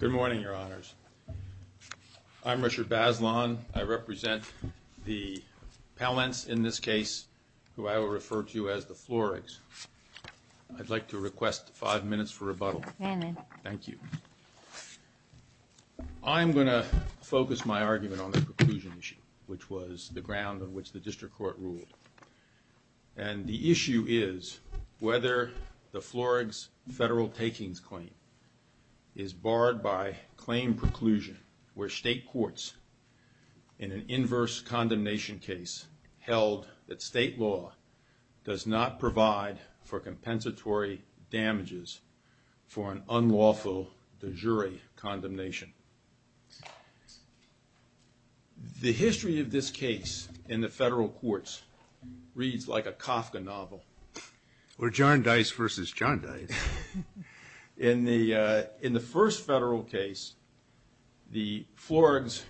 Good morning, Your Honors. I'm Richard Bazelon. I represent the Pellants in this case, who would like to request five minutes for rebuttal. Thank you. I'm going to focus my argument on the preclusion issue, which was the ground on which the District Court ruled. And the issue is whether the Floregs federal takings claim is barred by claim preclusion, where state courts, in an inverse condemnation case, held that state law does not provide for compensatory damages for an unlawful de jure condemnation. The history of this case in the federal courts reads like a Kafka novel. Or John Dice versus John Dice. In the first federal case, the Floregs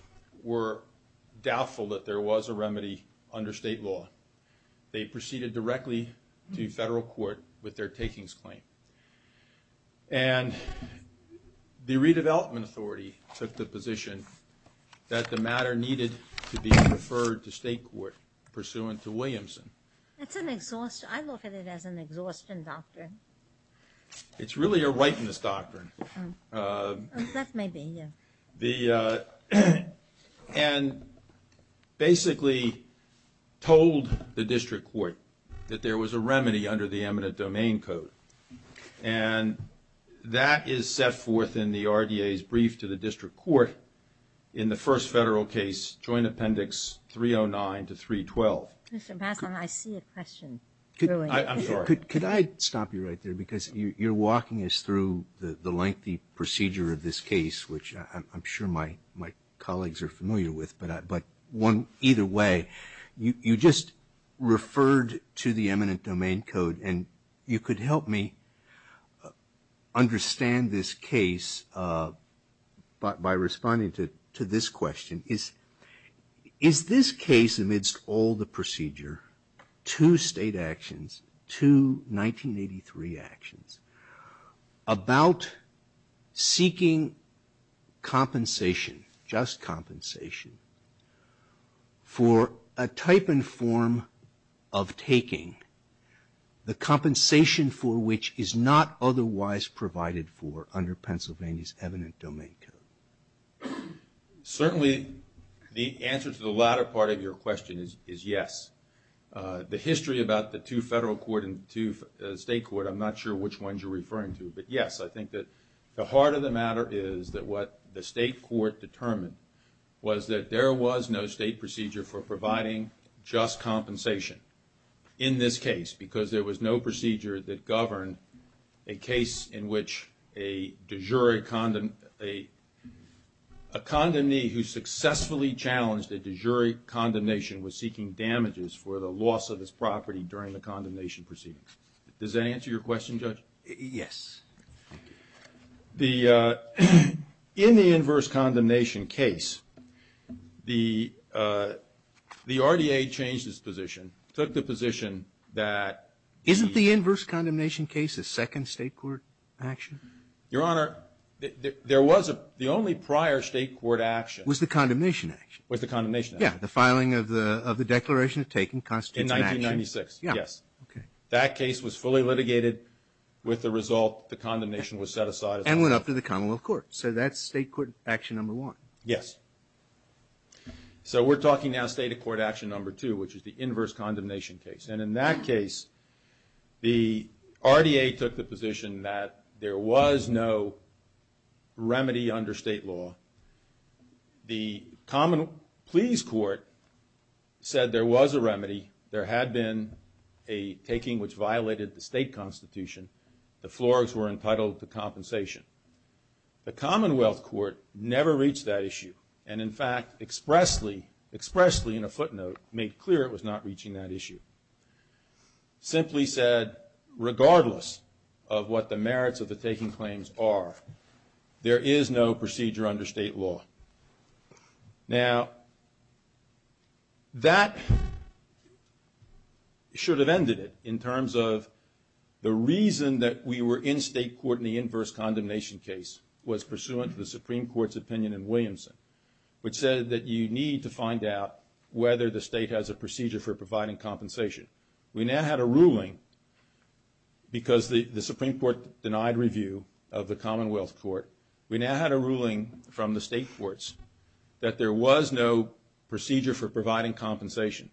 were doubtful that there was a remedy under state law. They proceeded directly to federal court with their takings claim. And the Redevelopment Authority took the position that the matter needed to be referred to state court pursuant to Williamson. That's an exhaustion. I look at it as an exhaustion doctrine. It's really a whiteness doctrine. That may be, yeah. And basically told the District Court that there was a remedy under the eminent domain code. And that is set forth in the RDA's brief to the District Court in the first federal case, Joint Appendix 309 to 312. Mr. Bassler, I see a question. I'm sorry. Could I stop you right there? Because you're walking us through the lengthy procedure of this case, which I'm sure my colleagues are familiar with. But either way, you just referred to the eminent domain code. And you could help me understand this case by responding to this question. Is this case, amidst all the procedure, two state actions, two 1983 actions, about seeking compensation, just compensation, for a type and form of taking the compensation for which is not otherwise provided for under Pennsylvania's eminent domain code? Certainly, the answer to the latter part of your question is yes. The history about the two federal court and two state court, I'm not sure which ones you're referring to. But yes, I think that the heart of the matter is that what the state court determined was that there was no state procedure for providing just compensation in this case. Because there was no procedure that governed a case in which a de jure, a condemnee who successfully challenged a de jure condemnation was seeking damages for the loss of his property during the condemnation proceedings. Does that answer your question, Judge? Yes. The, in the inverse condemnation case, the RDA changed its position, took the position that... Isn't the inverse condemnation case a second state court action? Your Honor, there was a, the only prior state court action... Was the condemnation action. Was the condemnation action. Yeah, the filing of the Declaration of Taking Constitutional Action. In 1996, yes. Yeah, okay. That case was fully litigated with the result the condemnation was set aside. And went up to the Commonwealth Court. So that's state court action number one. Yes. So we're talking now state of court action number two, which is the inverse condemnation case. And in that case, the RDA took the position that there was no remedy under state law. The Commonwealth Court said there was a remedy. There had been a taking which violated the state constitution. The floors were entitled to compensation. The Commonwealth Court never reached that issue. And in fact, expressly, expressly in a footnote, made clear it was not reaching that issue. Simply said, regardless of what the merits of the taking claims are, there is no procedure under state law. Now, that should have ended it in terms of the reason that we were in state court in the inverse condemnation case was pursuant to the Supreme Court's opinion in Williamson, which said that you need to find out whether the state has a procedure for providing compensation. We now had a ruling because the Supreme Court denied review of the Commonwealth Court. We now had a ruling from the state courts that there was no procedure for providing compensation.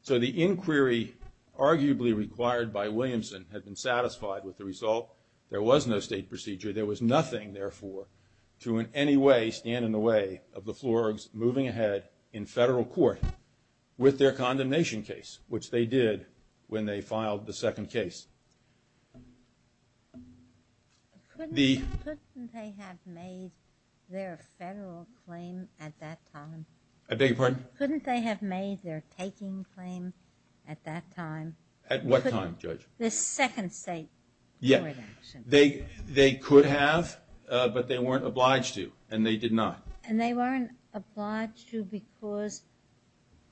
So the inquiry arguably required by Williamson had been satisfied with the result. There was no state procedure. There was nothing, therefore, to in any way stand in the way of the floors moving ahead in federal court with their condemnation case, which they did when they filed the second case. Couldn't they have made their federal claim at that time? I beg your pardon? Couldn't they have made their taking claim at that time? At what time, Judge? The second state court action. They could have, but they weren't obliged to, and they did not. And they weren't obliged to because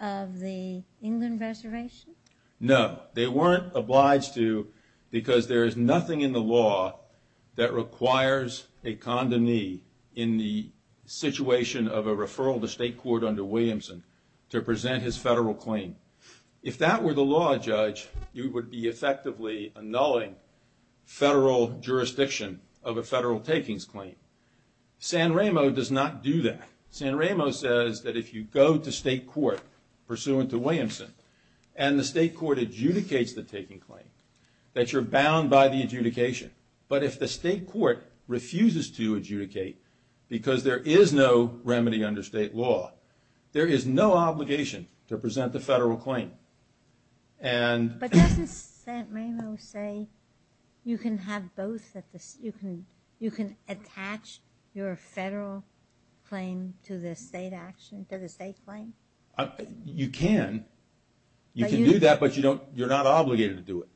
of the England reservation? No, they weren't obliged to because there is nothing in the law that requires a condemnee in the situation of a referral to state court under Williamson to present his federal claim. If that were the law, Judge, you would be effectively annulling federal jurisdiction of a federal takings claim. San Remo does not do that. San Remo says that if you go to state court pursuant to Williamson and the state court adjudicates the taking claim, that you're bound by the adjudication. But if the state court refuses to adjudicate because there is no remedy under state law, there is no obligation to present the federal claim. But doesn't San Remo say you can have both? You can attach your federal claim to the state action, to the state claim? You can. You can do that, but you're not obligated to do it.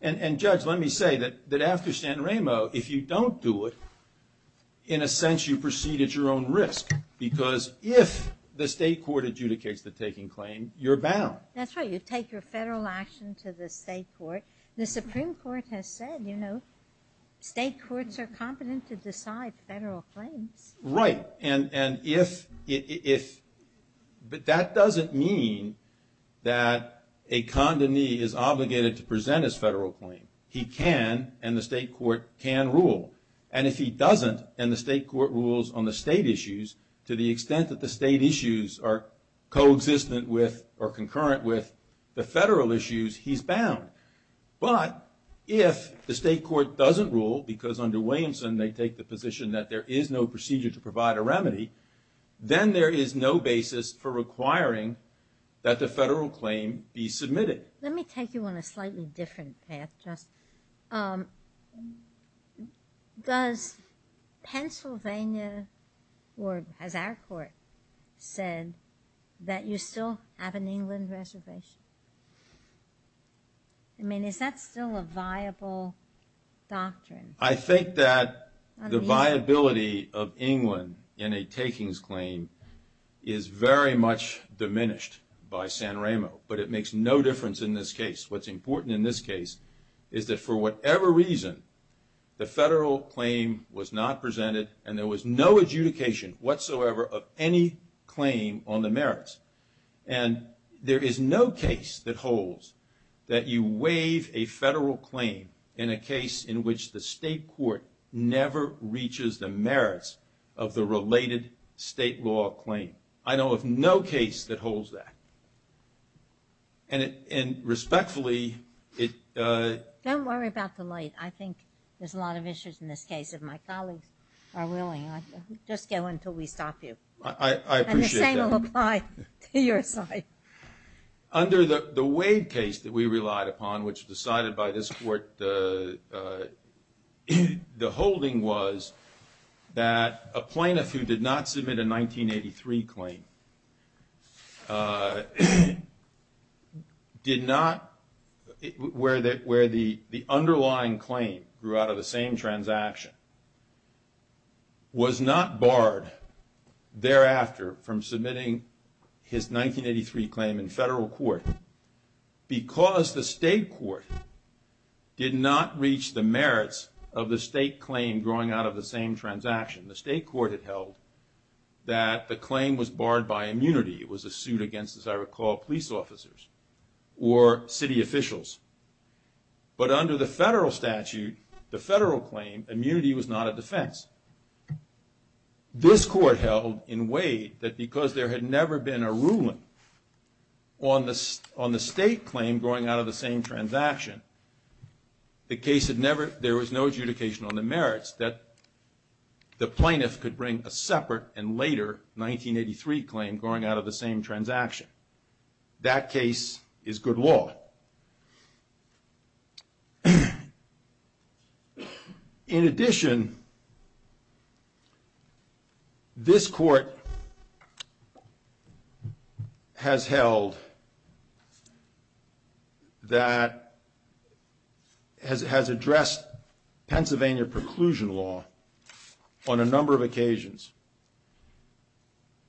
And Judge, let me say that after San Remo, if you don't do it, in a sense you proceed at your own risk because if the state court adjudicates the taking claim, you're bound. That's right. You take your federal action to the state court. The Supreme Court has said, you know, state courts are competent to decide federal claims. Right. And if, but that doesn't mean that a condemnee is obligated to present his federal claim. He can and the state court can rule. And if he doesn't and the state court rules on the state issues, to the extent that the state issues are co-existent with or concurrent with the federal issues, he's bound. But if the state court doesn't rule because under Williamson they take the position that there is no procedure to provide a remedy, then there is no basis for requiring that the federal claim be submitted. Let me take you on a slightly different path, Judge. Does Pennsylvania or has our court said that you still have an England reservation? I mean, is that still a viable doctrine? I think that the viability of England in a takings claim is very much diminished by San Remo, but it makes no difference in this case. What's important in this case is that for whatever reason, the federal claim was not presented and there was no adjudication whatsoever of any claim on the merits. And there is no case that holds that you waive a federal claim in a case in which the state court never reaches the merits of the related state law claim. I know of no case that holds that. And respectfully, it... Don't worry about the late. I think there's a lot of issues in this case if my colleagues are willing. Just go until we stop you. I appreciate that. And the same will apply to your side. Under the Wade case that we relied upon, which was decided by this court, the holding was that a plaintiff who did not submit a 1983 claim did not, where the underlying claim grew out of the same transaction, was not barred thereafter from submitting his 1983 claim in federal court because the state court did not reach the merits of the state claim growing out of the same transaction. The state court had held that the claim was barred by immunity. It was a suit against, as I recall, police officers or city officials. But under the federal statute, the federal claim, immunity was not a defense. This court held in Wade that because there had never been a ruling on the state claim growing out of the same transaction, the case had never... There was no adjudication on the merits that the plaintiff could bring a separate and later 1983 claim growing out of the same transaction. That case is good law. In addition, this court has held that... Has addressed Pennsylvania preclusion law on a number of occasions.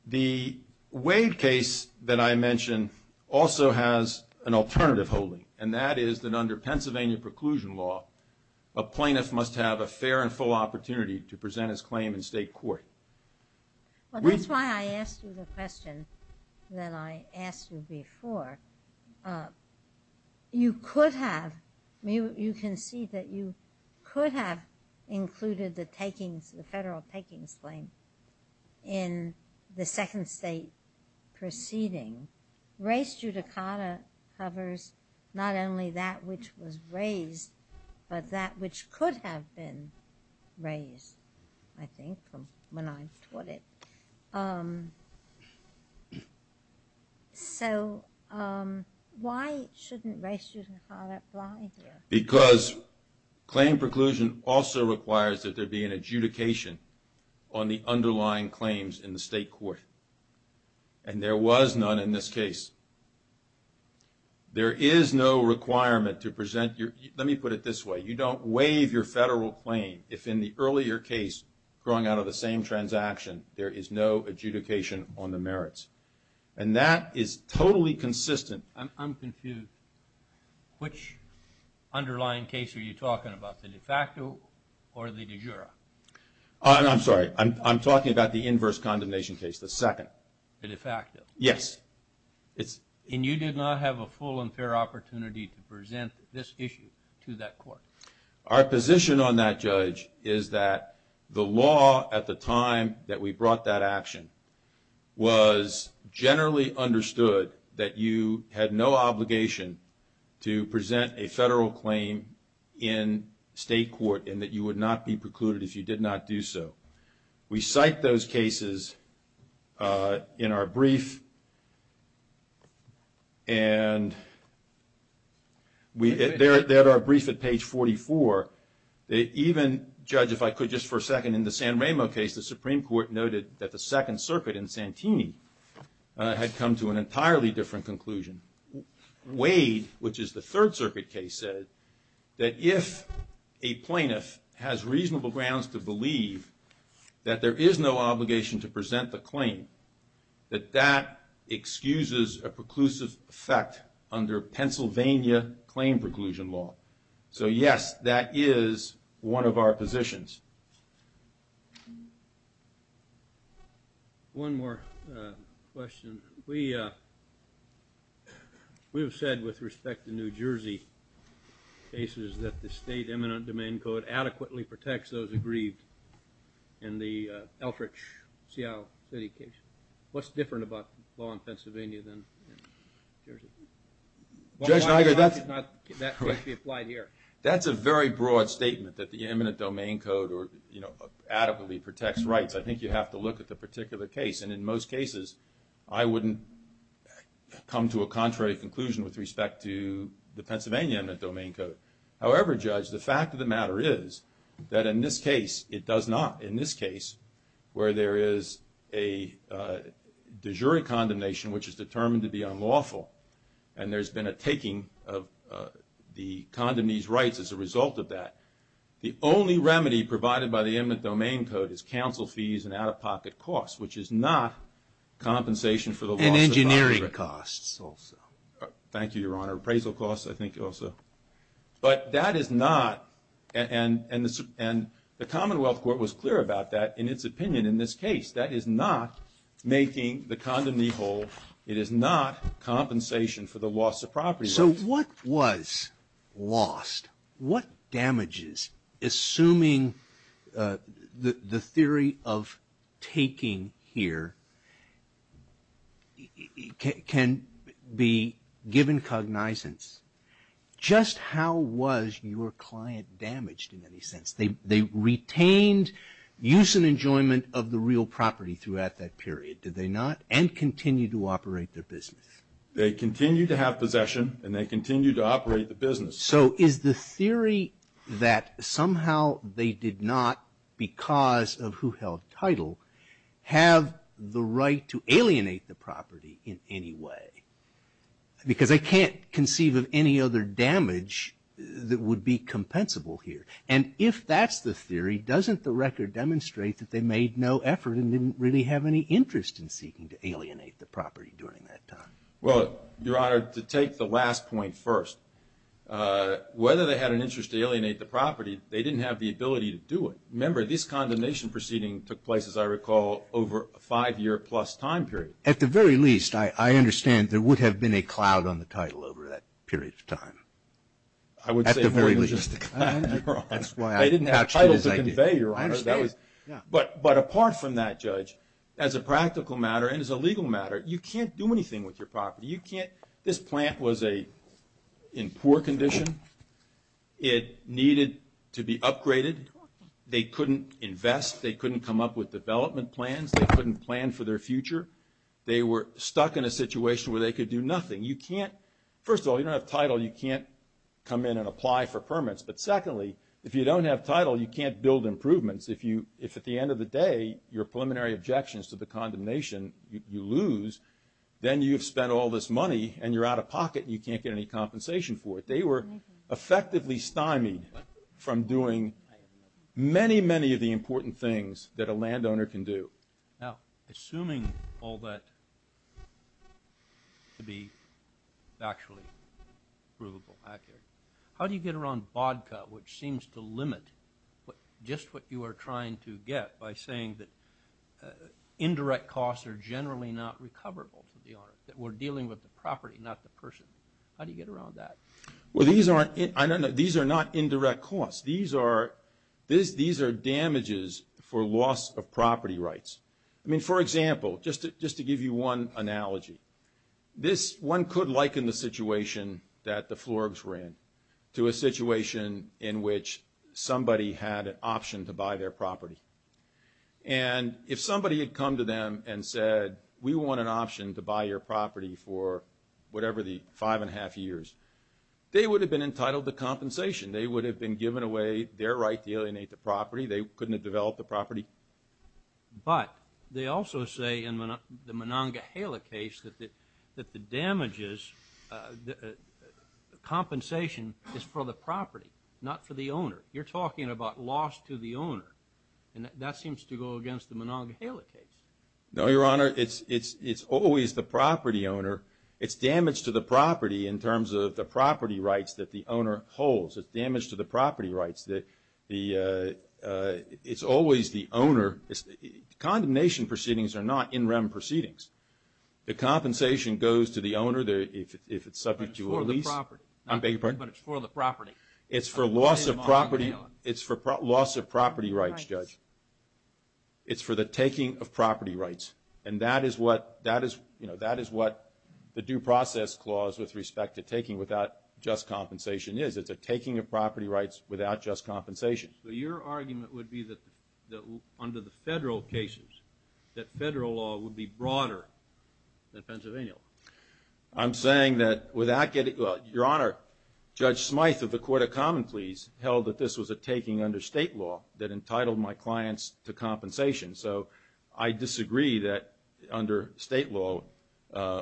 The Wade case that I mentioned also has an alternative case. And that is that under Pennsylvania preclusion law, a plaintiff must have a fair and full opportunity to present his claim in state court. Well, that's why I asked you the question that I asked you before. You could have... You can see that you could have included the federal takings claim in the second state proceeding. Race judicata covers not only that which was raised, but that which could have been raised, I think, from when I taught it. So why shouldn't race judicata apply here? Because claim preclusion also requires that there be an adjudication on the underlying claims in the state court. And there was none in this case. There is no requirement to present your... Let me put it this way. You don't waive your federal claim if in the earlier case growing out of the same transaction, there is no adjudication on the merits. And that is totally consistent... I'm confused. Which underlying case are you talking about? The de facto or the de jure? I'm sorry. I'm talking about the inverse condemnation case, the second. The de facto? Yes. And you did not have a full and fair opportunity to present this issue to that court? Our position on that, Judge, is that the law at the time that we brought that action was generally understood that you had no obligation to present a federal claim in state court and that you would not be precluded if you did not do so. We cite those cases in our brief and... They're at our brief at page 44. Even, Judge, if I could just for a second, in the San Remo case, the Supreme Court noted that the Second Circuit in Santini had come to an entirely different conclusion. Wade, which is the Third Circuit case, said that if a plaintiff has reasonable grounds to believe that there is no obligation to present the claim, that that excuses a preclusive effect under Pennsylvania claim preclusion law. So yes, that is one of our positions. One more question. We have said with respect to New Jersey cases that there is no obligation that the state eminent domain code adequately protects those aggrieved in the Elkridge, Seattle City case. What's different about the law in Pennsylvania than in Jersey? Judge Niger, that's... Well, why did not that case be applied here? That's a very broad statement, that the eminent domain code adequately protects rights. I think you have to look at the particular case. And in most cases, I wouldn't come to a contrary conclusion with respect to the Pennsylvania eminent domain code. However, Judge, the fact of the matter is that in this case, it does not. In this case, where there is a de jure condemnation, which is determined to be unlawful, and there's been a taking of the condemned these rights as a result of that, the only remedy provided by the eminent domain code is counsel fees and out-of-pocket costs, which is not compensation for the loss of... And engineering costs also. Thank you, Your Honor. Appraisal costs, I think, also. But that is not... And the Commonwealth Court was clear about that in its opinion in this case. That is not making the condom legal. It is not compensation for the loss of property rights. So what was lost? What damages, assuming the theory of taking here, can be given cognizance? Just how was your client damaged in any sense? They retained use and enjoyment of the real property throughout that period, did they not? And continued to operate their business? They continued to have possession and they continued to operate the business. So is the theory that somehow they did not, because of who held title, have the right to alienate the property in any way? Because I can't conceive of any other damage that would be compensable here. And if that's the theory, doesn't the record demonstrate that they made no effort and didn't really have any interest in seeking to alienate the property during that time? Well, Your Honor, to take the last point first, whether they had an interest to alienate the property, they didn't have the ability to do it. Remember, this condemnation proceeding took place, as I recall, over a five-year-plus time period. At the very least, I understand there would have been a cloud on the title over that period of time. At the very least. I didn't have title to convey, Your Honor. But apart from that, Judge, as a practical matter and as a legal matter, you can't do anything with your property. This plant was in poor condition. It needed to be upgraded. They couldn't invest. They couldn't come up with development plans. They couldn't plan for their future. They were stuck in a situation where they could do nothing. First of all, you don't have title. You can't come in and apply for permits. But secondly, if you don't have title, you can't build improvements. If at the end of the day, your preliminary objections to the condemnation, you lose, then you've spent all this money and you're out of pocket and you can't get any compensation for it. They were effectively stymied from doing many, many of the important things that a landowner can do. Now, assuming all that to be actually provable, how do you get around BODCA, which seems to limit just what you are trying to get by saying that indirect costs are generally not recoverable, that we're dealing with the property, not the person? How do you get around that? Well, these are not indirect costs. These are damages for loss of property rights. I mean, for example, just to give you one analogy, this one could liken the situation that the Florbs were in to a situation in which somebody had an option to buy their property. And if somebody had come to them and said, we want an option to buy your property for whatever the five and a half years, they would have been entitled to compensation. They would have been given away their right to alienate the property. They couldn't have developed the property. But they also say in the Monongahela case that the damages, the compensation is for the property, not for the owner. You're talking about loss to the owner. And that seems to go against the Monongahela case. No, Your Honor. It's always the property owner. It's damage to the property in terms of the property rights that the owner holds. It's damage to the property rights that the, it's always the owner. Condemnation proceedings are not in rem proceedings. The compensation goes to the owner if it's subject to a lease. But it's for the property. I beg your pardon? But it's for the property. It's for loss of property rights, Judge. It's for the taking of property rights. And that is what, you know, that is what the due process clause with respect to taking without just compensation is. It's a taking of property rights without just compensation. But your argument would be that under the federal cases that federal law would be broader than Pennsylvania law. I'm saying that without getting, well, Your Honor, Judge Smyth of the Court of Common Pleas held that this was a taking under state law that entitled my clients to compensation. So I disagree that under state law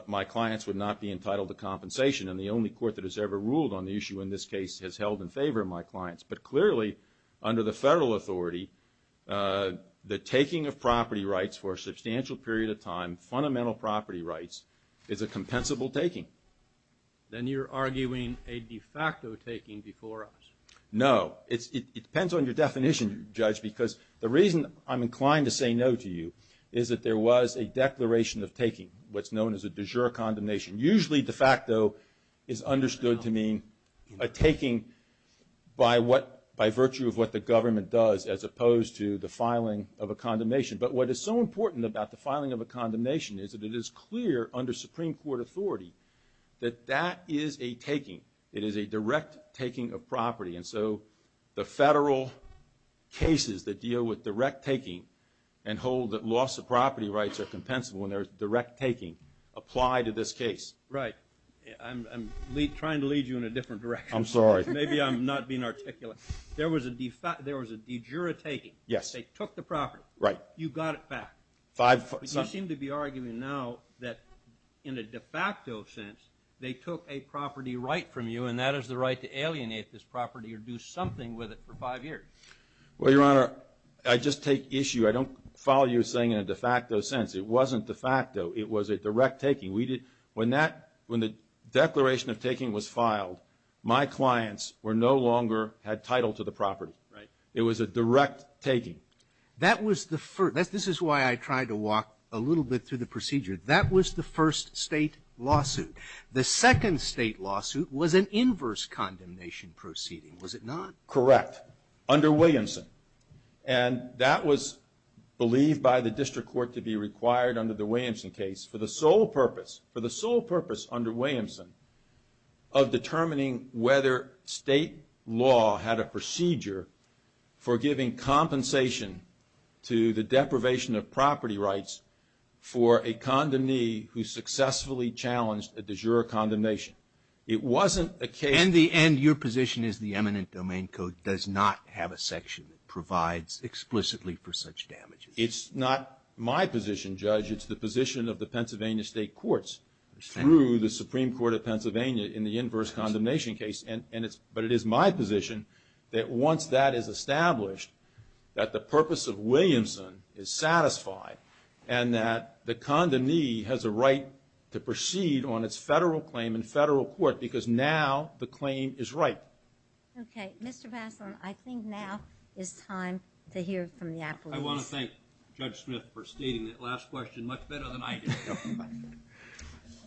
my clients would not be entitled to compensation. And the only court that has ever ruled on the case has held in favor of my clients. But clearly under the federal authority the taking of property rights for a substantial period of time, fundamental property rights, is a compensable taking. Then you're arguing a de facto taking before us. No. It depends on your definition, Judge, because the reason I'm inclined to say no to you is that there was a declaration of taking, what's known as a de jure condemnation. Usually de facto is understood to mean a taking by virtue of what the government does as opposed to the filing of a condemnation. But what is so important about the filing of a condemnation is that it is clear under Supreme Court authority that that is a taking. It is a direct taking of property. And so the federal cases that deal with direct taking and hold that loss of property rights are compensable and they're direct taking apply to this case. Right. I'm trying to lead you in a different direction. I'm sorry. Maybe I'm not being articulate. There was a de jure taking. Yes. They took the property. Right. You got it back. But you seem to be arguing now that in a de facto sense they took a property right from you and that is the right to alienate this property or do something with it for five years. Well, it wasn't de facto. It was a direct taking. When the declaration of taking was filed, my clients no longer had title to the property. Right. It was a direct taking. This is why I tried to walk a little bit through the procedure. That was the first state lawsuit. The second state lawsuit was an inverse condemnation proceeding, was it not? Correct. Under Williamson. And that was believed by the district court to be required under the Williamson case for the sole purpose, for the sole purpose under Williamson of determining whether state law had a procedure for giving compensation to the deprivation of property rights for a condemnee who successfully challenged a de jure condemnation. It wasn't a case. In the end, your position is the eminent domain code does not have a section that provides explicitly for such damages. It's not my position, Judge. It's the position of the Pennsylvania State Courts through the Supreme Court of Pennsylvania in the inverse condemnation case. But it is my position that once that is established, that the purpose of Williamson is satisfied and that the condemnee has a right to proceed on its federal claim in federal court because now the claim is right. Okay, Mr. Vasson, I think now is time to hear from the appellees. I want to thank Judge Smith for stating that last question much better than I did.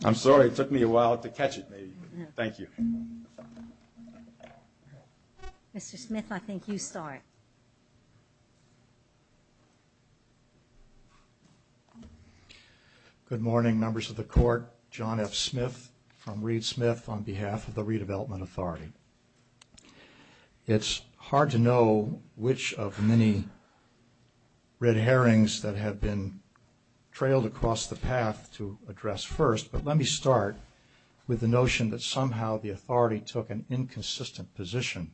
I'm sorry it took me a while to catch it. Thank you. Mr. Smith, I think you start. Good morning and good evening. My name is Joe Smith. It's hard to know which of many red herrings that have been trailed across the path to address first, but let me start with the notion that somehow the authority took an inconsistent position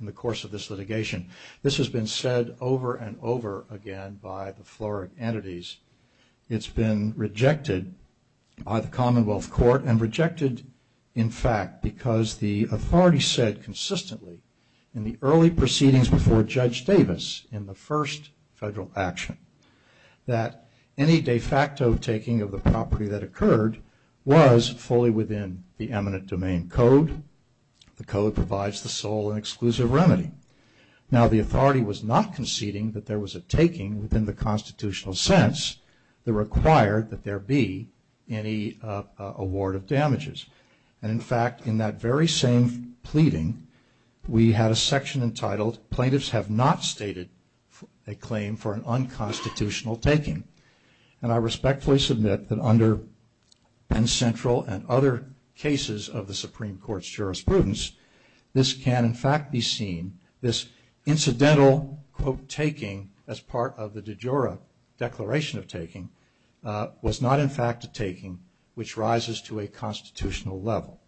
in the course of this litigation. This has been said over and over again by the floor entities. It's been rejected by fact because the authority said consistently in the early proceedings before Judge Davis in the first federal action that any de facto taking of the property that occurred was fully within the eminent domain code. The code provides the sole and exclusive remedy. Now the authority was not conceding that there was a taking within the constitutional sense that required that there be any award of damages. And in fact in that very same pleading we had a section entitled plaintiffs have not stated a claim for an unconstitutional taking. And I respectfully submit that under Penn Central and other cases of the Supreme Court's jurisprudence this can in fact be seen, this incidental quote taking as part of the de jure declaration of taking was not in fact a taking which rises to a constitutional level.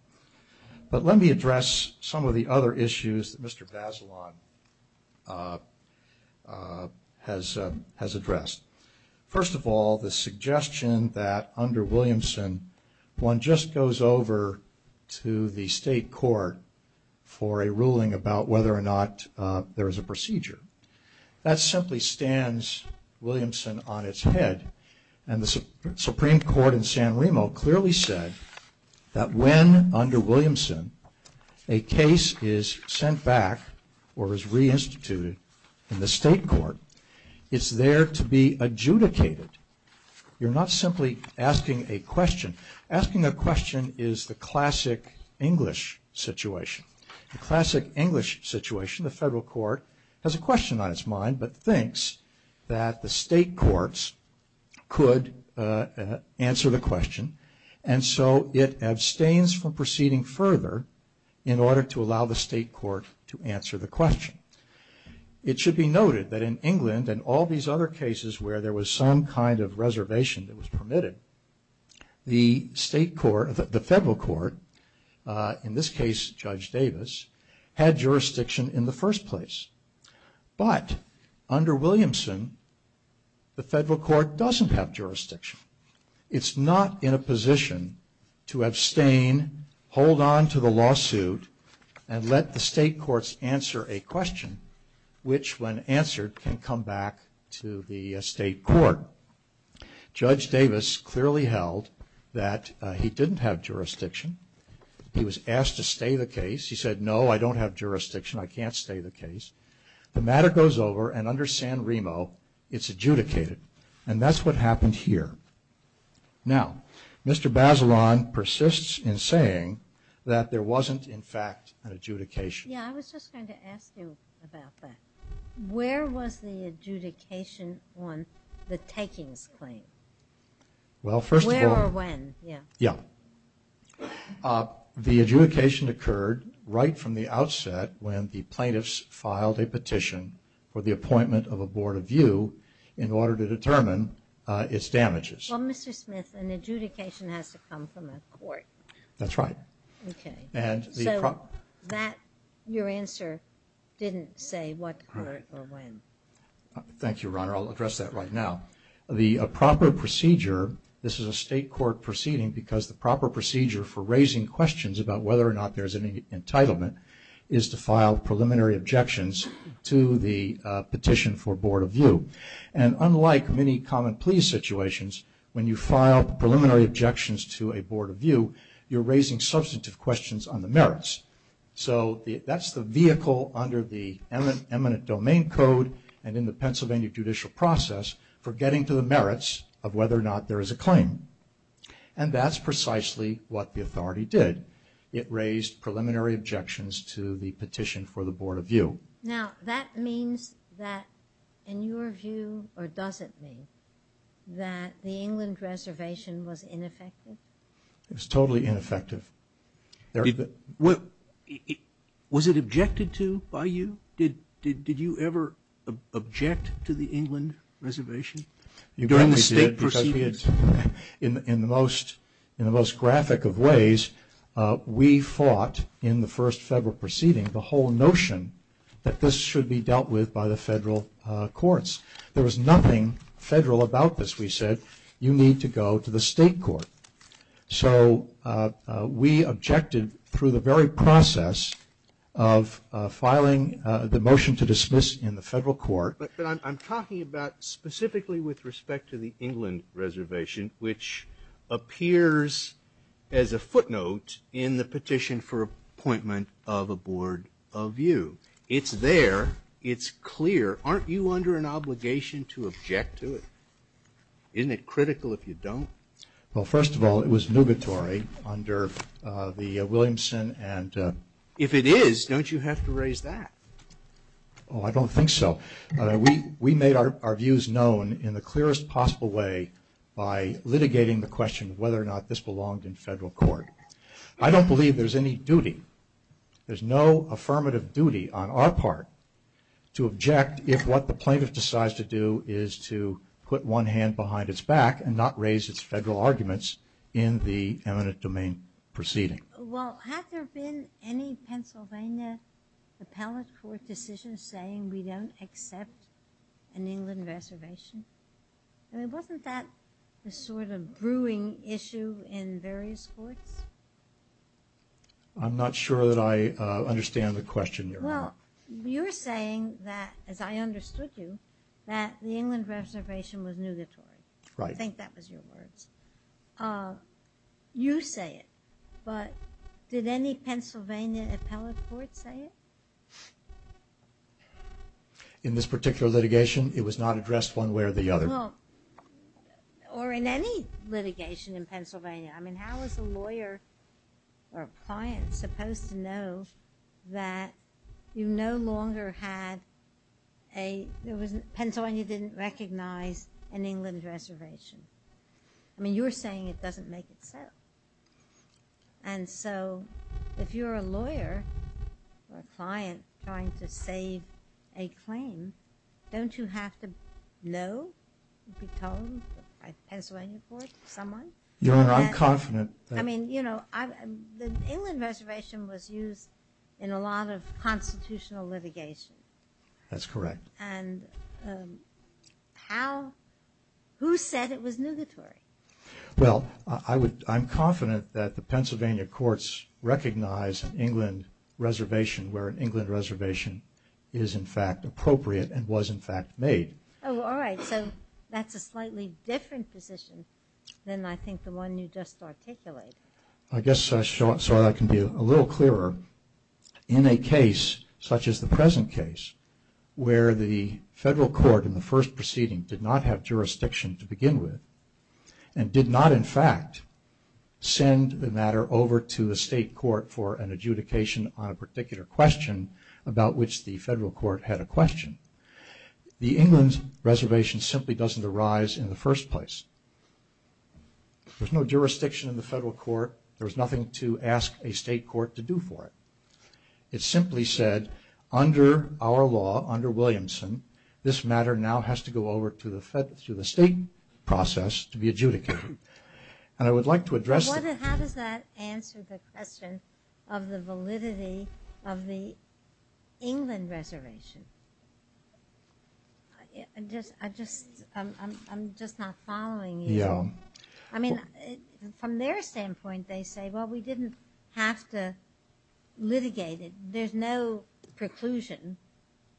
But let me address some of the other issues that Mr. Bazelon has addressed. First of all the suggestion that under Williamson one just goes over to the state court for a ruling about whether or not there is a procedure. That simply stands Williamson on its head and the Supreme Court in San Remo clearly said that when under Williamson a case is sent back or is reinstituted in the state court it's there to be adjudicated. You're not simply asking a question. Asking a question is the classic English situation. The classic English situation the federal court has a question on its mind but thinks that the state courts could answer the question and so it abstains from proceeding further in order to allow the state court to answer the question. It should be noted that in England and all these other cases where there was some kind of reservation that was permitted the federal court in this case Judge Davis had jurisdiction in the first place. But under Williamson the federal court doesn't have jurisdiction. It's not in a position to abstain, hold on to the lawsuit and let the state courts answer a question which when answered can come back to the state court. Judge Davis clearly held that he didn't have jurisdiction. He was asked to stay the case. He said no I don't have jurisdiction. I can't stay the case. The matter goes over and under San Remo it's adjudicated and that's what happened here. Now Mr. Bazelon persists in saying that there wasn't in fact an adjudication. Yeah I was just going to ask you about that. Where was the adjudication on the takings claim? Well first of all. Where or when? Yeah. Yeah. The adjudication occurred right from the outset when the plaintiffs filed a petition for the appointment of a board of view in order to determine its damages. Well Mr. Smith an adjudication has to come from a court. That's right. Okay. So your answer didn't say what court or when. Thank you Your Honor. I'll address that right now. The proper procedure, this is a state court proceeding because the proper procedure for raising questions about whether or not there's an entitlement is to file preliminary objections to the petition for board of view. And unlike many common pleas situations when you file preliminary objections to a board of view you're raising substantive questions on the merits. So that's the vehicle under the eminent domain code and in the Pennsylvania judicial process for getting to the merits of whether or not there is a claim. And that's precisely what the authority did. It raised preliminary objections to the petition for the board of view. Now that means that in your view or does it mean that the England reservation was ineffective? It was totally ineffective. Was it objected to by you? Did you ever object to the England reservation during the state proceedings? In the most graphic of ways we fought in the first federal courts. There was nothing federal about this. We said you need to go to the state court. So we objected through the very process of filing the motion to dismiss in the federal court. But I'm talking about specifically with respect to the England reservation which appears as a footnote in the petition for appointment of a board of view. It's there. It's clear. Aren't you under an obligation to object to it? Isn't it critical if you don't? Well first of all it was nugatory under the Williamson and. If it is don't you have to raise that? Oh I don't think so. We made our views known in the clearest possible way by litigating the question of whether or not this belonged in federal court. I don't believe there's any duty. There's no affirmative duty on our part to object if what the plaintiff decides to do is to put one hand behind its back and not raise its federal arguments in the eminent domain proceeding. Well had there been any Pennsylvania appellate court decision saying we don't accept an England reservation? I mean wasn't that the sort of brewing issue in various courts? I'm not sure that I understand the question. Well you're saying that as I understood you that the England reservation was nugatory. I think that was your words. You say it but did any Pennsylvania appellate court say it? In this particular litigation it was not addressed one way or the other. Well or in any litigation in Pennsylvania. I mean how is a lawyer or a client supposed to know that you no longer had a, there was, Pennsylvania didn't recognize an England reservation. I mean you're saying it doesn't make it so. And so if you're a lawyer or a client trying to save a claim don't you have to make a claim don't you have to know, be told by a Pennsylvania court, someone? Your Honor I'm confident. I mean you know the England reservation was used in a lot of constitutional litigation. That's correct. And how, who said it was nugatory? Well I'm confident that the Pennsylvania courts recognize an England reservation where an England reservation is in fact appropriate and was in fact made. Oh all right so that's a slightly different position than I think the one you just articulated. I guess so I can be a little clearer. In a case such as the present case where the federal court in the first proceeding did not have jurisdiction to begin with and did not in fact send the matter over to a state court for an adjudication on a particular question about which the federal court had a question, the England reservation simply doesn't arise in the first place. There's no jurisdiction in the federal court. There was nothing to ask a state court to do for it. It simply said under our law, under Williamson, this matter now has to go over to the state process to be adjudicated. And I would like to address that. How does that answer the question of the validity of the England reservation? I'm just not following you. Yeah. I mean from their standpoint they say well we didn't have to litigate it. There's no preclusion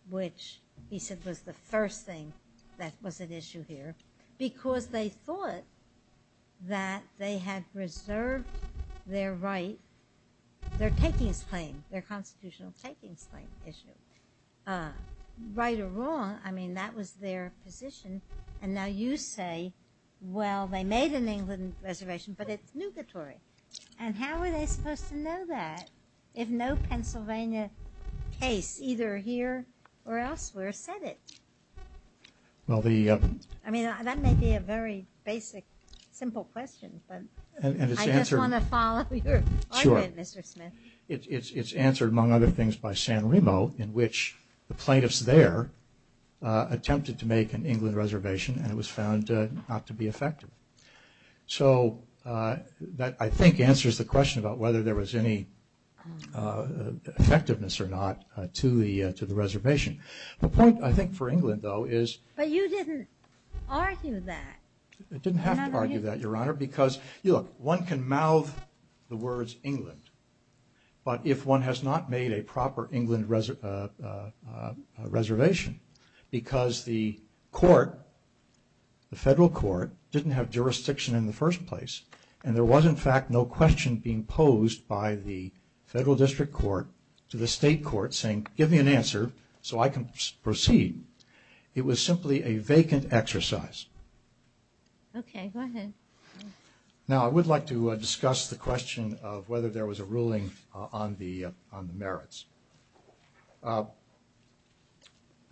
which he said was the first thing that was an issue here because they thought that they had reserved their right, their takings claim, their constitutional takings claim issue. Right or wrong I mean that was their position and now you say well they made an England reservation but it's nugatory. And how are they supposed to know that if no Pennsylvania case either here or elsewhere said it? Well the. I mean that may be a very basic simple question but. And it's answered. I just want to follow your argument Mr. Smith. It's answered among other things by San Remo in which the plaintiffs there attempted to make an England reservation and it was found not to be effective. So that I think answers the question about whether there was any effectiveness or not to the reservation. The point I think for England though is. But you didn't argue that. I didn't have to argue that Your Honor because you look one can mouth the words England but if one has not made a proper England reservation because the court, the federal court didn't have jurisdiction in the first place and there was in fact no question being posed by the state court saying give me an answer so I can proceed. It was simply a vacant exercise. Now I would like to discuss the question of whether there was a ruling on the merits.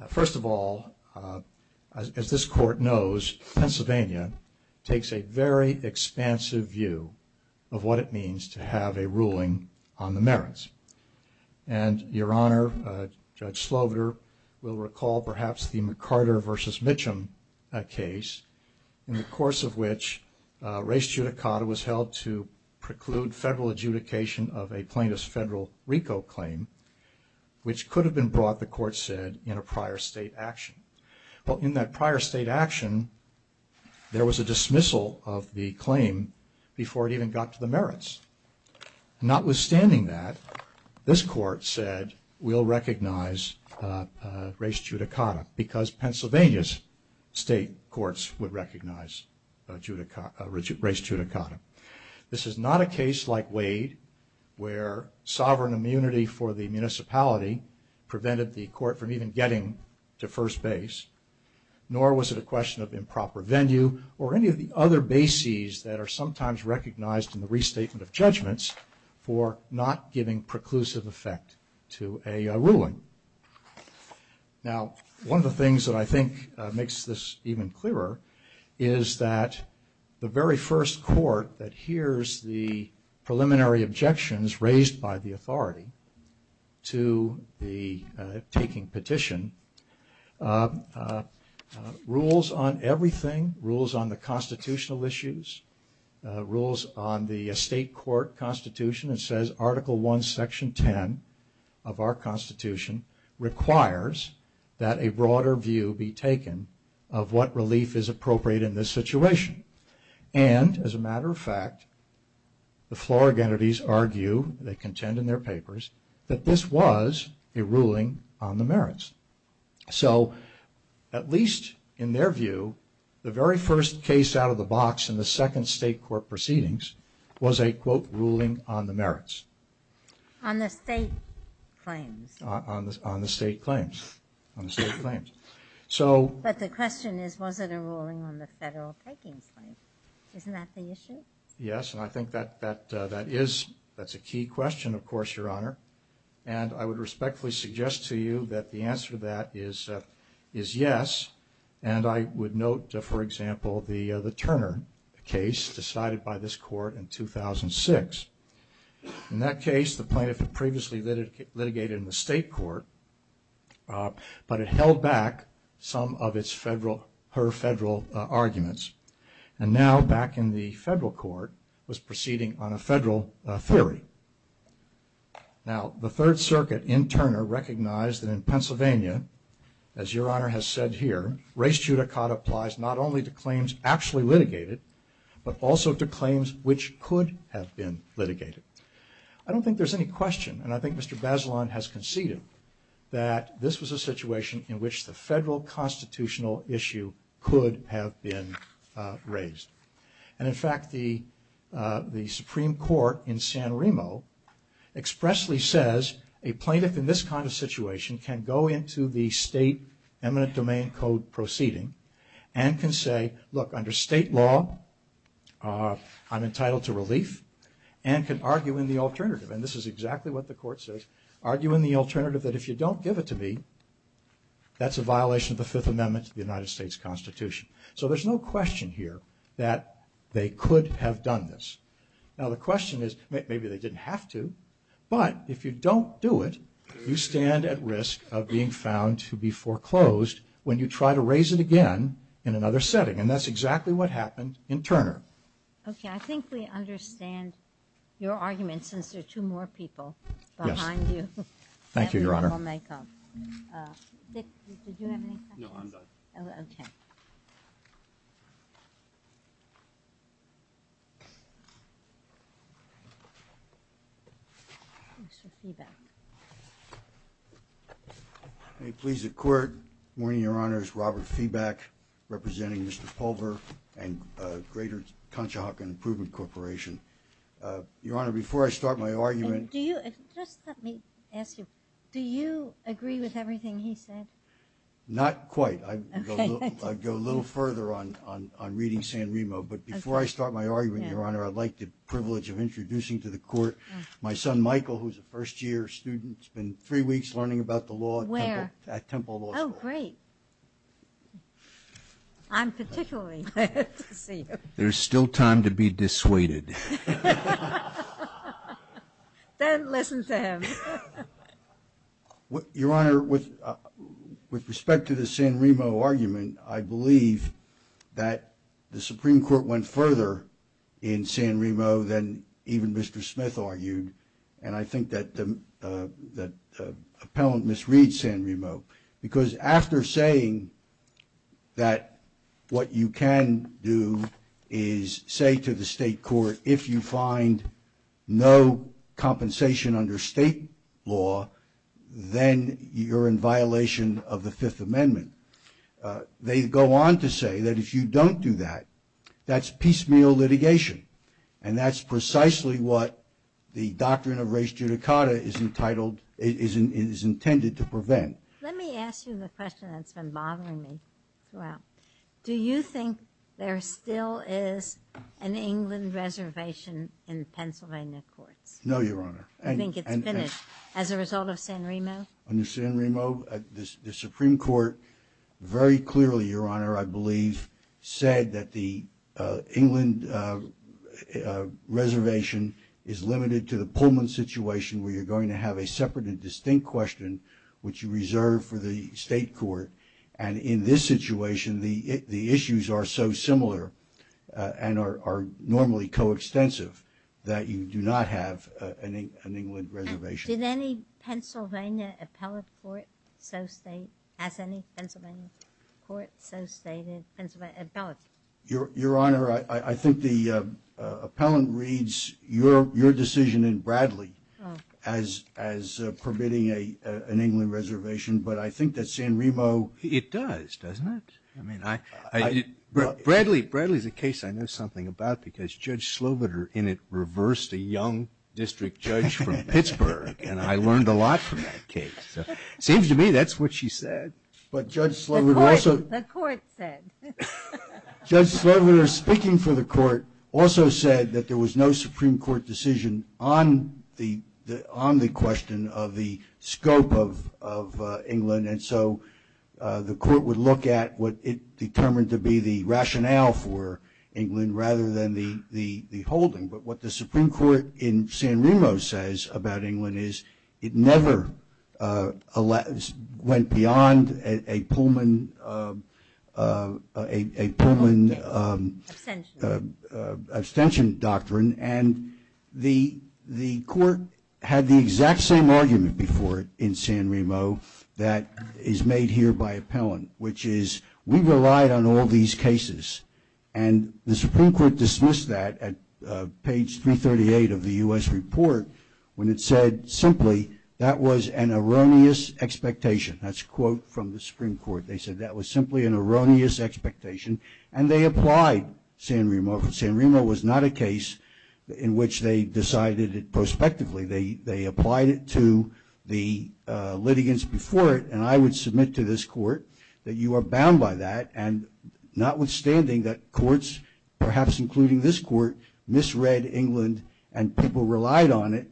First of all as this court knows Pennsylvania takes a very expansive view of what it means to have a ruling on the merits. And Your Honor, Judge Sloviter will recall perhaps the McCarter versus Mitchum case in the course of which race judicata was held to preclude federal adjudication of a plaintiff's federal RICO claim which could have been brought the court said in a prior state action. Well in that prior state action there was a dismissal of the claim before it even got to the merits. Notwithstanding that this court said we'll recognize race judicata because Pennsylvania's state courts would recognize race judicata. This is not a case like Wade where sovereign immunity for the municipality prevented the court from even getting to first base nor was it a question of improper venue or any of the other bases that are sometimes recognized in the restatement of judgments for not giving preclusive effect to a ruling. Now one of the things that I think makes this even clearer is that the very first court that hears the preliminary objections raised by the authority to the taking petition rules on everything, rules on the constitutional basis, rules on constitutional issues, rules on the state court constitution, it says article one section ten of our constitution requires that a broader view be taken of what relief is appropriate in this situation. And as a matter of fact the Florida entities argue, they contend in their papers, that this was a ruling on the merits. So at least in their view the very first case out of the box in the second state court proceedings was a quote ruling on the merits. On the state claims. On the state claims. On the state claims. So. But the question is was it a ruling on the federal taking claim? Isn't that the issue? Yes and I think that is, that's a key question of course Your Honor. And I would respectfully suggest to you that the answer to that is yes. And I would note for example the Turner case decided by this court in 2006. In that case the plaintiff had previously litigated in the state court but it held back some of its federal, her federal arguments. And now back in the federal court was proceeding on a federal theory. Now the third circuit in Turner recognized that in Pennsylvania, as Your Honor has said here, res judicata applies not only to claims actually litigated but also to claims which could have been litigated. I don't think there's any question, and I think Mr. Bazelon has conceded, that this was a situation in which the federal constitutional issue could have been raised. And in fact the Supreme Court in San Remo expressly says a plaintiff in this kind of situation can go into the state eminent domain code proceeding and can say look under state law I'm entitled to relief and can argue in the alternative. And this is exactly what the court says. Argue in the alternative that if you don't give it to me that's a violation of the Fifth Amendment to the United States Constitution. So there's no question here that they could have done this. Now the question is maybe they didn't have to, but if you don't do it you stand at risk of being found to be foreclosed when you try to raise it again in another setting and that's exactly what happened in Turner. Okay, I think we understand your argument since there are two more people behind you. Thank you, Your Honor. Did you have any questions? Mr. Feeback. May it please the Court, good morning, Your Honor. It's Robert Feeback representing Mr. Pulver and Greater Conchahokan Improvement Corporation. Your Honor, before I start my argument. Do you, just let me ask you, do you agree with everything he said? Not quite. I'd go a little further on reading San Remo, but before I start my argument, Your Honor, I'd like the privilege of introducing to the Court my son, Michael, who's a first year student. He's been three weeks learning about the law at Temple Law School. Oh, great. I'm particularly glad to see you. There's still time to be dissuaded. Then listen to him. Your Honor, with respect to the San Remo argument, I believe that the Supreme Court went further in San Remo than even Mr. Smith argued, and I think that the appellant misread San Remo, because after saying that what you can do is say to the state court, if you find no compensation under state law, then you're in violation of the Fifth Amendment. They go on to say that if you don't do that, that's piecemeal litigation, and that's precisely what the doctrine of res judicata is intended to prevent. Let me ask you the question that's been bothering me throughout. Do you think there still is an England reservation in Pennsylvania courts? No, Your Honor. You think it's finished as a result of San Remo? Under San Remo, the Supreme Court very clearly, Your Honor, I believe said that the England reservation is limited to the Pullman situation, where you're going to have a separate and distinct question, which you reserve for the state court. In this situation, the issues are so similar and are normally coextensive that you do not have an England reservation. Did any Pennsylvania appellate court so state, as any Pennsylvania court so stated, appellate? Your Honor, I think the appellant reads your decision in Bradley as permitting an England reservation, but I think that San Remo It does, doesn't it? I mean, Bradley is a case I know something about because Judge and I learned a lot from that case. It seems to me that's what she said. But Judge Slovener also The court said Judge Slovener speaking for the court also said that there was no Supreme Court decision on the question of the scope of England, and so the court would look at what it determined to be the rationale for England rather than the holding. But what the Supreme Court in this case, it never went beyond a Pullman abstention doctrine, and the court had the exact same argument before in San Remo that is made here by appellant, which is we relied on all these cases. And the Supreme Court dismissed that at page 338 of the U.S. report when it said simply that was an erroneous expectation. That's a quote from the Supreme Court. They said that was simply an erroneous expectation, and they applied San Remo. San Remo was not a case in which they decided it prospectively. They applied it to the litigants before it, and I would submit to this court that you are bound by that, and notwithstanding that courts, perhaps including this court, misread England and people relied on it,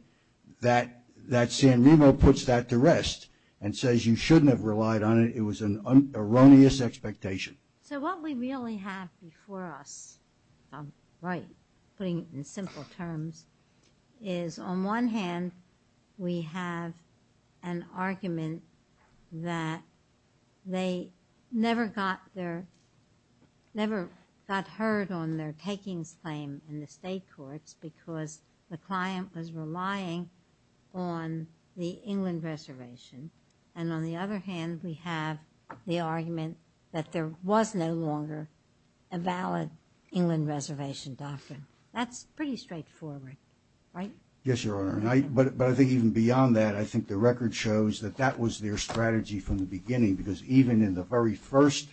that San Remo puts that to rest and says you shouldn't have relied on it. It was an erroneous expectation. So what we really have before us, right, putting it in simple terms, is on one hand we have an argument that they never got heard on their takings claim in the state courts because the client was relying on the England reservation, and on the other hand we have the argument that there was no longer a valid England reservation doctrine. That's pretty straightforward, right? Yes, Your Honor, but I think even beyond that, I think the record shows that that was their strategy from the beginning because even in the very first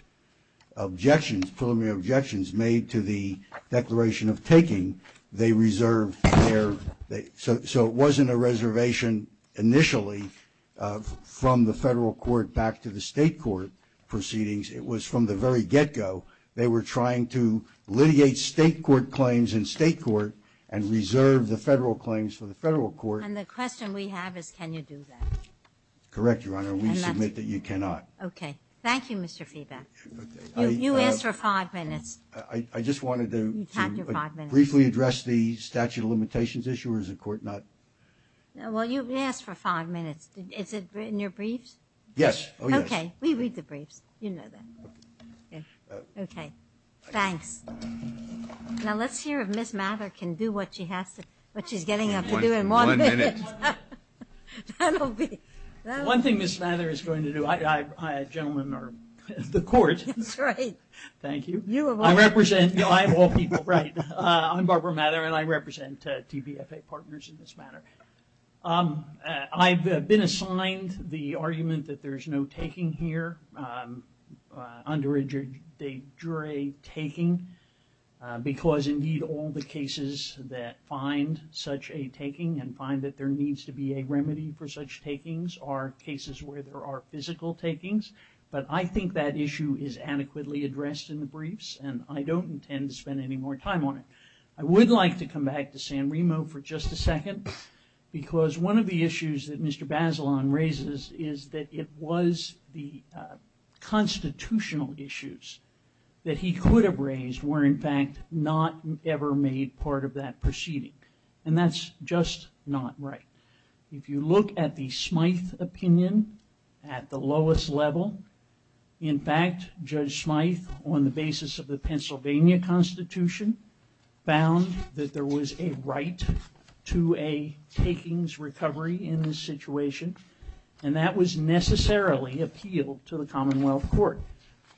objections, preliminary objections made to the declaration of taking, they reserved their, so it wasn't a reservation initially from the federal court back to the state court proceedings. It was from the very get-go. They were trying to litigate state court claims in state court and reserve the federal claims for the federal court. And the question we have is can you do that? Correct, Your Honor, and we submit that you cannot. Okay. Thank you, Mr. Feeback. You asked for five minutes. I just wanted to briefly address the statute of limitations issue, or is the court not? Well, you asked for five minutes. Is it in your briefs? Yes. Okay. We read the briefs. You know that. Okay. Thanks. Now let's hear if Ms. Mather can do what she has to, what she's getting up to do in one minute. One minute. That'll be, that'll be... One thing Ms. Mather is going to do, I, I, I, a gentleman of the court. That's right. Thank you. You of all people. I represent, you know, I have all people, right. I'm Barbara Mather and I represent TBFA partners in this matter. I've been assigned the argument that there's no taking here. Under a jury taking, because indeed all the cases that find such a taking and find that there needs to be a remedy for such takings are cases where there are physical takings. But I think that issue is adequately addressed in the briefs and I don't intend to spend any more time on it. I would like to come back to San Remo for just a second because one of the issues that constitutional issues that he could have raised were in fact not ever made part of that proceeding and that's just not right. If you look at the Smythe opinion at the lowest level, in fact, Judge Smythe on the basis of the Pennsylvania Constitution found that there was a right to a takings recovery in this situation and that was necessarily appealed to the Commonwealth Court.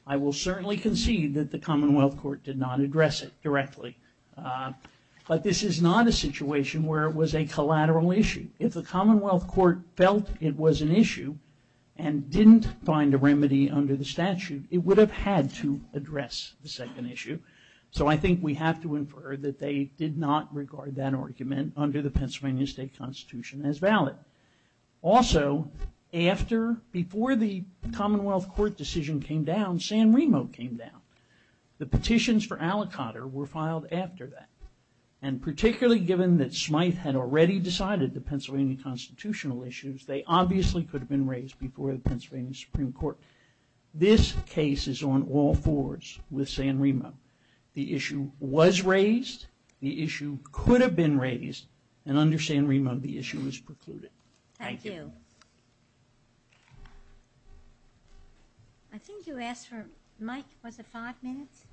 I will certainly concede that the Commonwealth Court did not address it directly, but this is not a situation where it was a collateral issue. If the Commonwealth Court felt it was an issue and didn't find a remedy under the statute it would have had to address the second issue. So I think we have to infer that they did not regard that argument under the Pennsylvania State Constitution as valid. Also, before the Commonwealth Court decision came down, San Remo came down. The petitions for Alicotter were filed after that and particularly given that Smythe had already decided the Pennsylvania constitutional issues, they obviously could have been raised before the Pennsylvania Supreme Court. This case is on all fours with San Remo. The issue was raised, the issue could have been raised, and under San Remo the issue was precluded. Thank you. Thank you. I think you asked for, Mike, was it five minutes?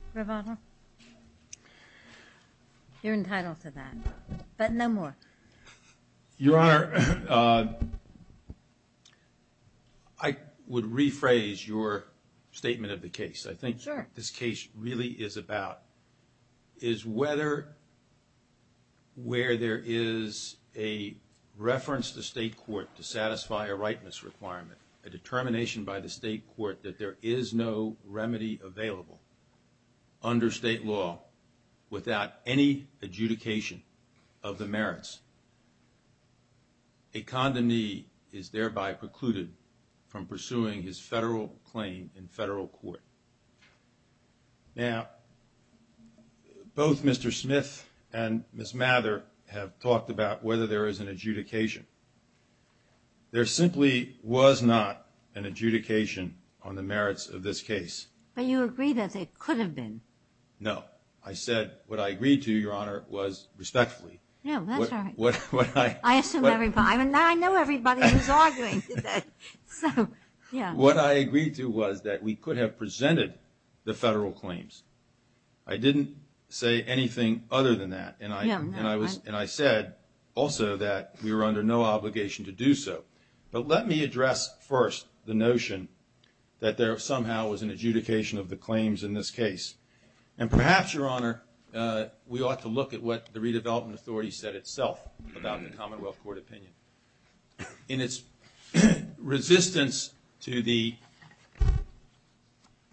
You're entitled to that, but no more. Your Honor, I would rephrase your statement of the case. Sure. The point this case really is about is whether where there is a reference to state court to satisfy a rightness requirement, a determination by the state court that there is no remedy available under state law without any adjudication of the merits. A condomnee is thereby precluded from pursuing his federal claim in federal court. Now, both Mr. Smythe and Ms. Mather have talked about whether there is an adjudication. There simply was not an adjudication on the merits of this case. But you agree that there could have been. I said what I agreed to, Your Honor, was respectfully. No, that's all right. I know everybody who's arguing today. What I agreed to was that we could have presented the federal claims. I didn't say anything other than that, and I said also that we were under no obligation to do so. But let me address first the notion that there somehow was an adjudication of the claims in this case. And perhaps, Your Honor, we ought to look at what the redevelopment authority said itself about the Commonwealth Court opinion. In its resistance to the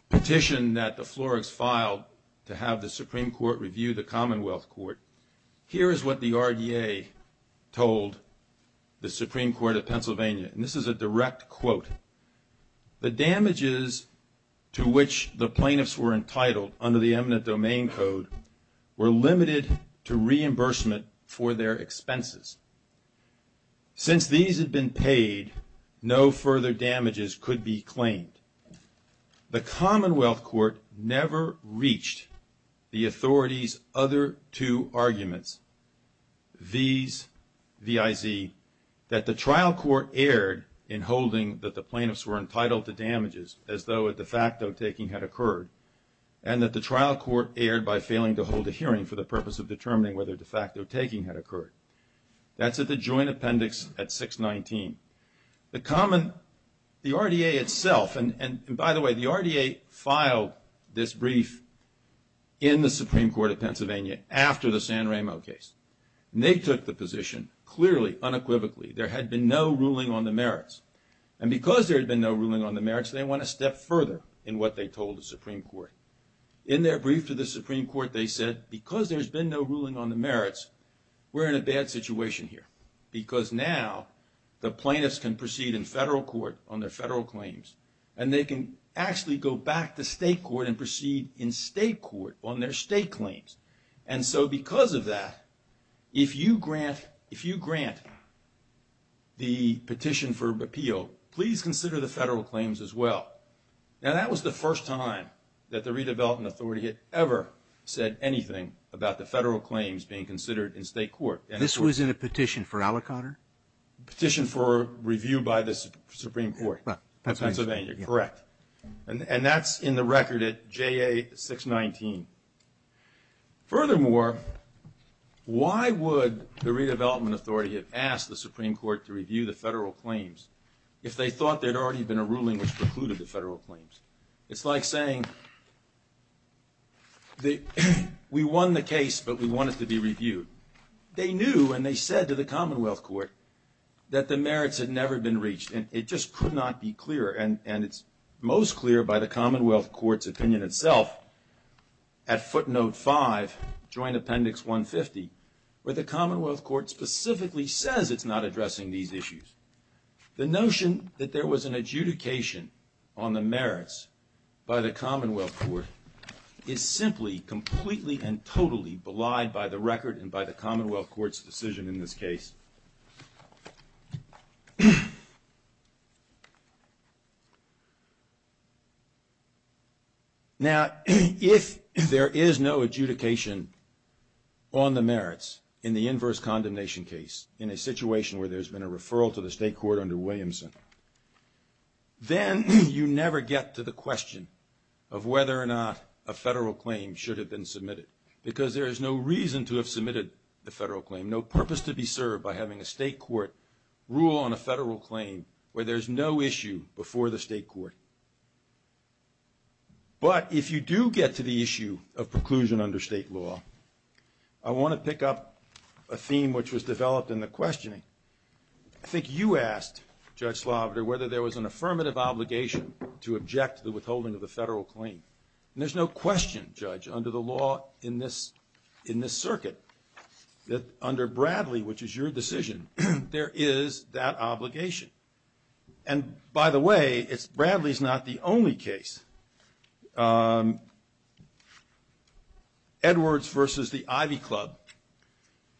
petition that the Florids filed to have the Supreme Court review the Commonwealth Court, here is what the RDA told the Supreme Court of Pennsylvania. And this is a direct quote. The damages to which the plaintiffs were entitled under the eminent domain code were limited to reimbursement for their expenses. Since these had been paid, no further damages could be claimed. The Commonwealth Court never reached the authorities' other two arguments, V's, VIZ, that the trial court erred in holding that the plaintiffs were entitled to damages as though a de facto taking had occurred, and that the trial court erred by failing to hold a hearing for the purpose of determining whether a de facto taking had occurred. That's at the joint appendix at 619. The common, the RDA itself, and by the way, the RDA filed this brief in the Supreme Court of Pennsylvania after the San Ramo case. And they took the position clearly, unequivocally, there had been no ruling on the merits. And because there had been no ruling on the merits, they went a step further in what they told the Supreme Court. In their brief to the Supreme Court, they said, because there's been no ruling on the merits, we're in a bad situation here. Because now the plaintiffs can proceed in federal court on their federal claims and they can actually go back to state court and proceed in state court on their state claims. And so because of that, if you grant the petition for repeal, please consider the federal claims as well. Now that was the first time that the redevelopment authority had ever said anything about the federal claims being considered in state court. This was in a petition for aliquotter? Petition for review by the Supreme Court. Pennsylvania, correct. And that's in the record at JA 619. Furthermore, why would the redevelopment authority have asked the Supreme Court to review the federal claims if they thought there had already been a ruling which precluded the federal claims? It's like saying, we won the case but we want it to be reviewed. They knew and they said to the Commonwealth Court that the merits had never been reached and it just could not be clearer and it's most clear by the Commonwealth Court's opinion itself at footnote 5, Joint Appendix 150 where the Commonwealth Court specifically says it's not addressing these issues. The notion that there was an adjudication on the merits by the Commonwealth Court is simply completely and totally belied by the record and by the Commonwealth Court's decision in this case. Now, if there is no adjudication on the merits in the inverse condemnation case in a situation where there's been a referral to the state court under Williamson, then you never get to the question of whether or not a federal claim should have been submitted because there is no reason to have submitted the federal claim, no purpose to be served by the state court by having a state court rule on a federal claim where there's no issue before the state court. But if you do get to the issue of preclusion under state law, I want to pick up a theme which was developed in the questioning. I think you asked, Judge Sloviter, whether there was an affirmative obligation to object to the withholding of the federal claim. And there's no question, Judge, under the law in this circuit that under Bradley, which is your decision, there is that obligation. And by the way, Bradley's not the only case. Edwards versus the Ivy Club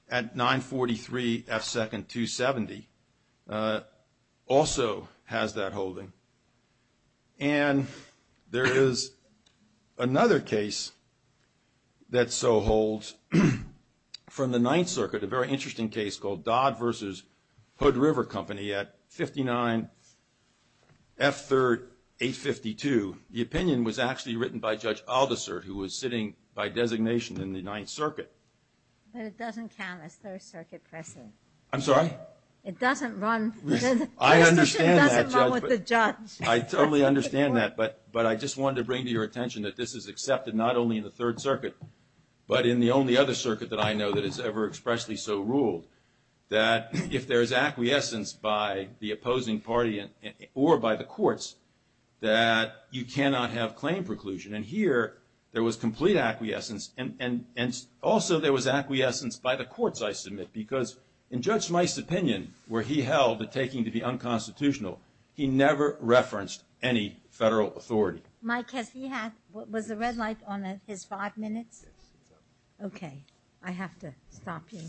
at 943 F. Second 270 also has that holding. And there is another case that so holds from the Ninth Circuit, a very interesting case called Dodd versus Hood River Company at 59 F. Third 852. The opinion was actually written by Judge Aldiser who was sitting by designation in the Ninth Circuit. But it doesn't count as Third Circuit precedent. I'm sorry? It doesn't run with the judge. I totally understand that, but I just wanted to bring to your attention that this is accepted not only in the Third Circuit but in the only other circuit that I know that is ever expressly so ruled that if there is acquiescence by the opposing party or by the courts that you cannot have claim preclusion. And here there was complete acquiescence and also there was acquiescence by the courts, I submit, because in Judge Mice's opinion where he held the taking to be unconstitutional, he never referenced any federal authority. Was the red light on his five minutes? Okay. I have to stop you.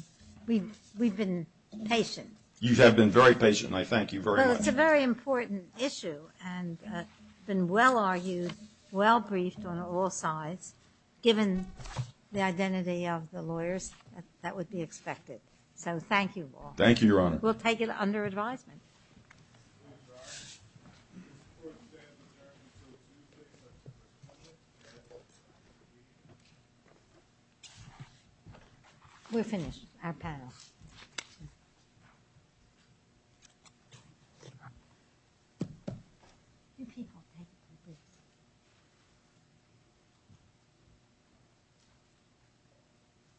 We've been patient. You have been very patient. I thank you very much. It's a very important issue and been well argued, well briefed on all sides given the identity of the lawyers that would be expected. So thank you all. Thank you, Your Honor. We'll take it under advisement. We're finished. I'll pass.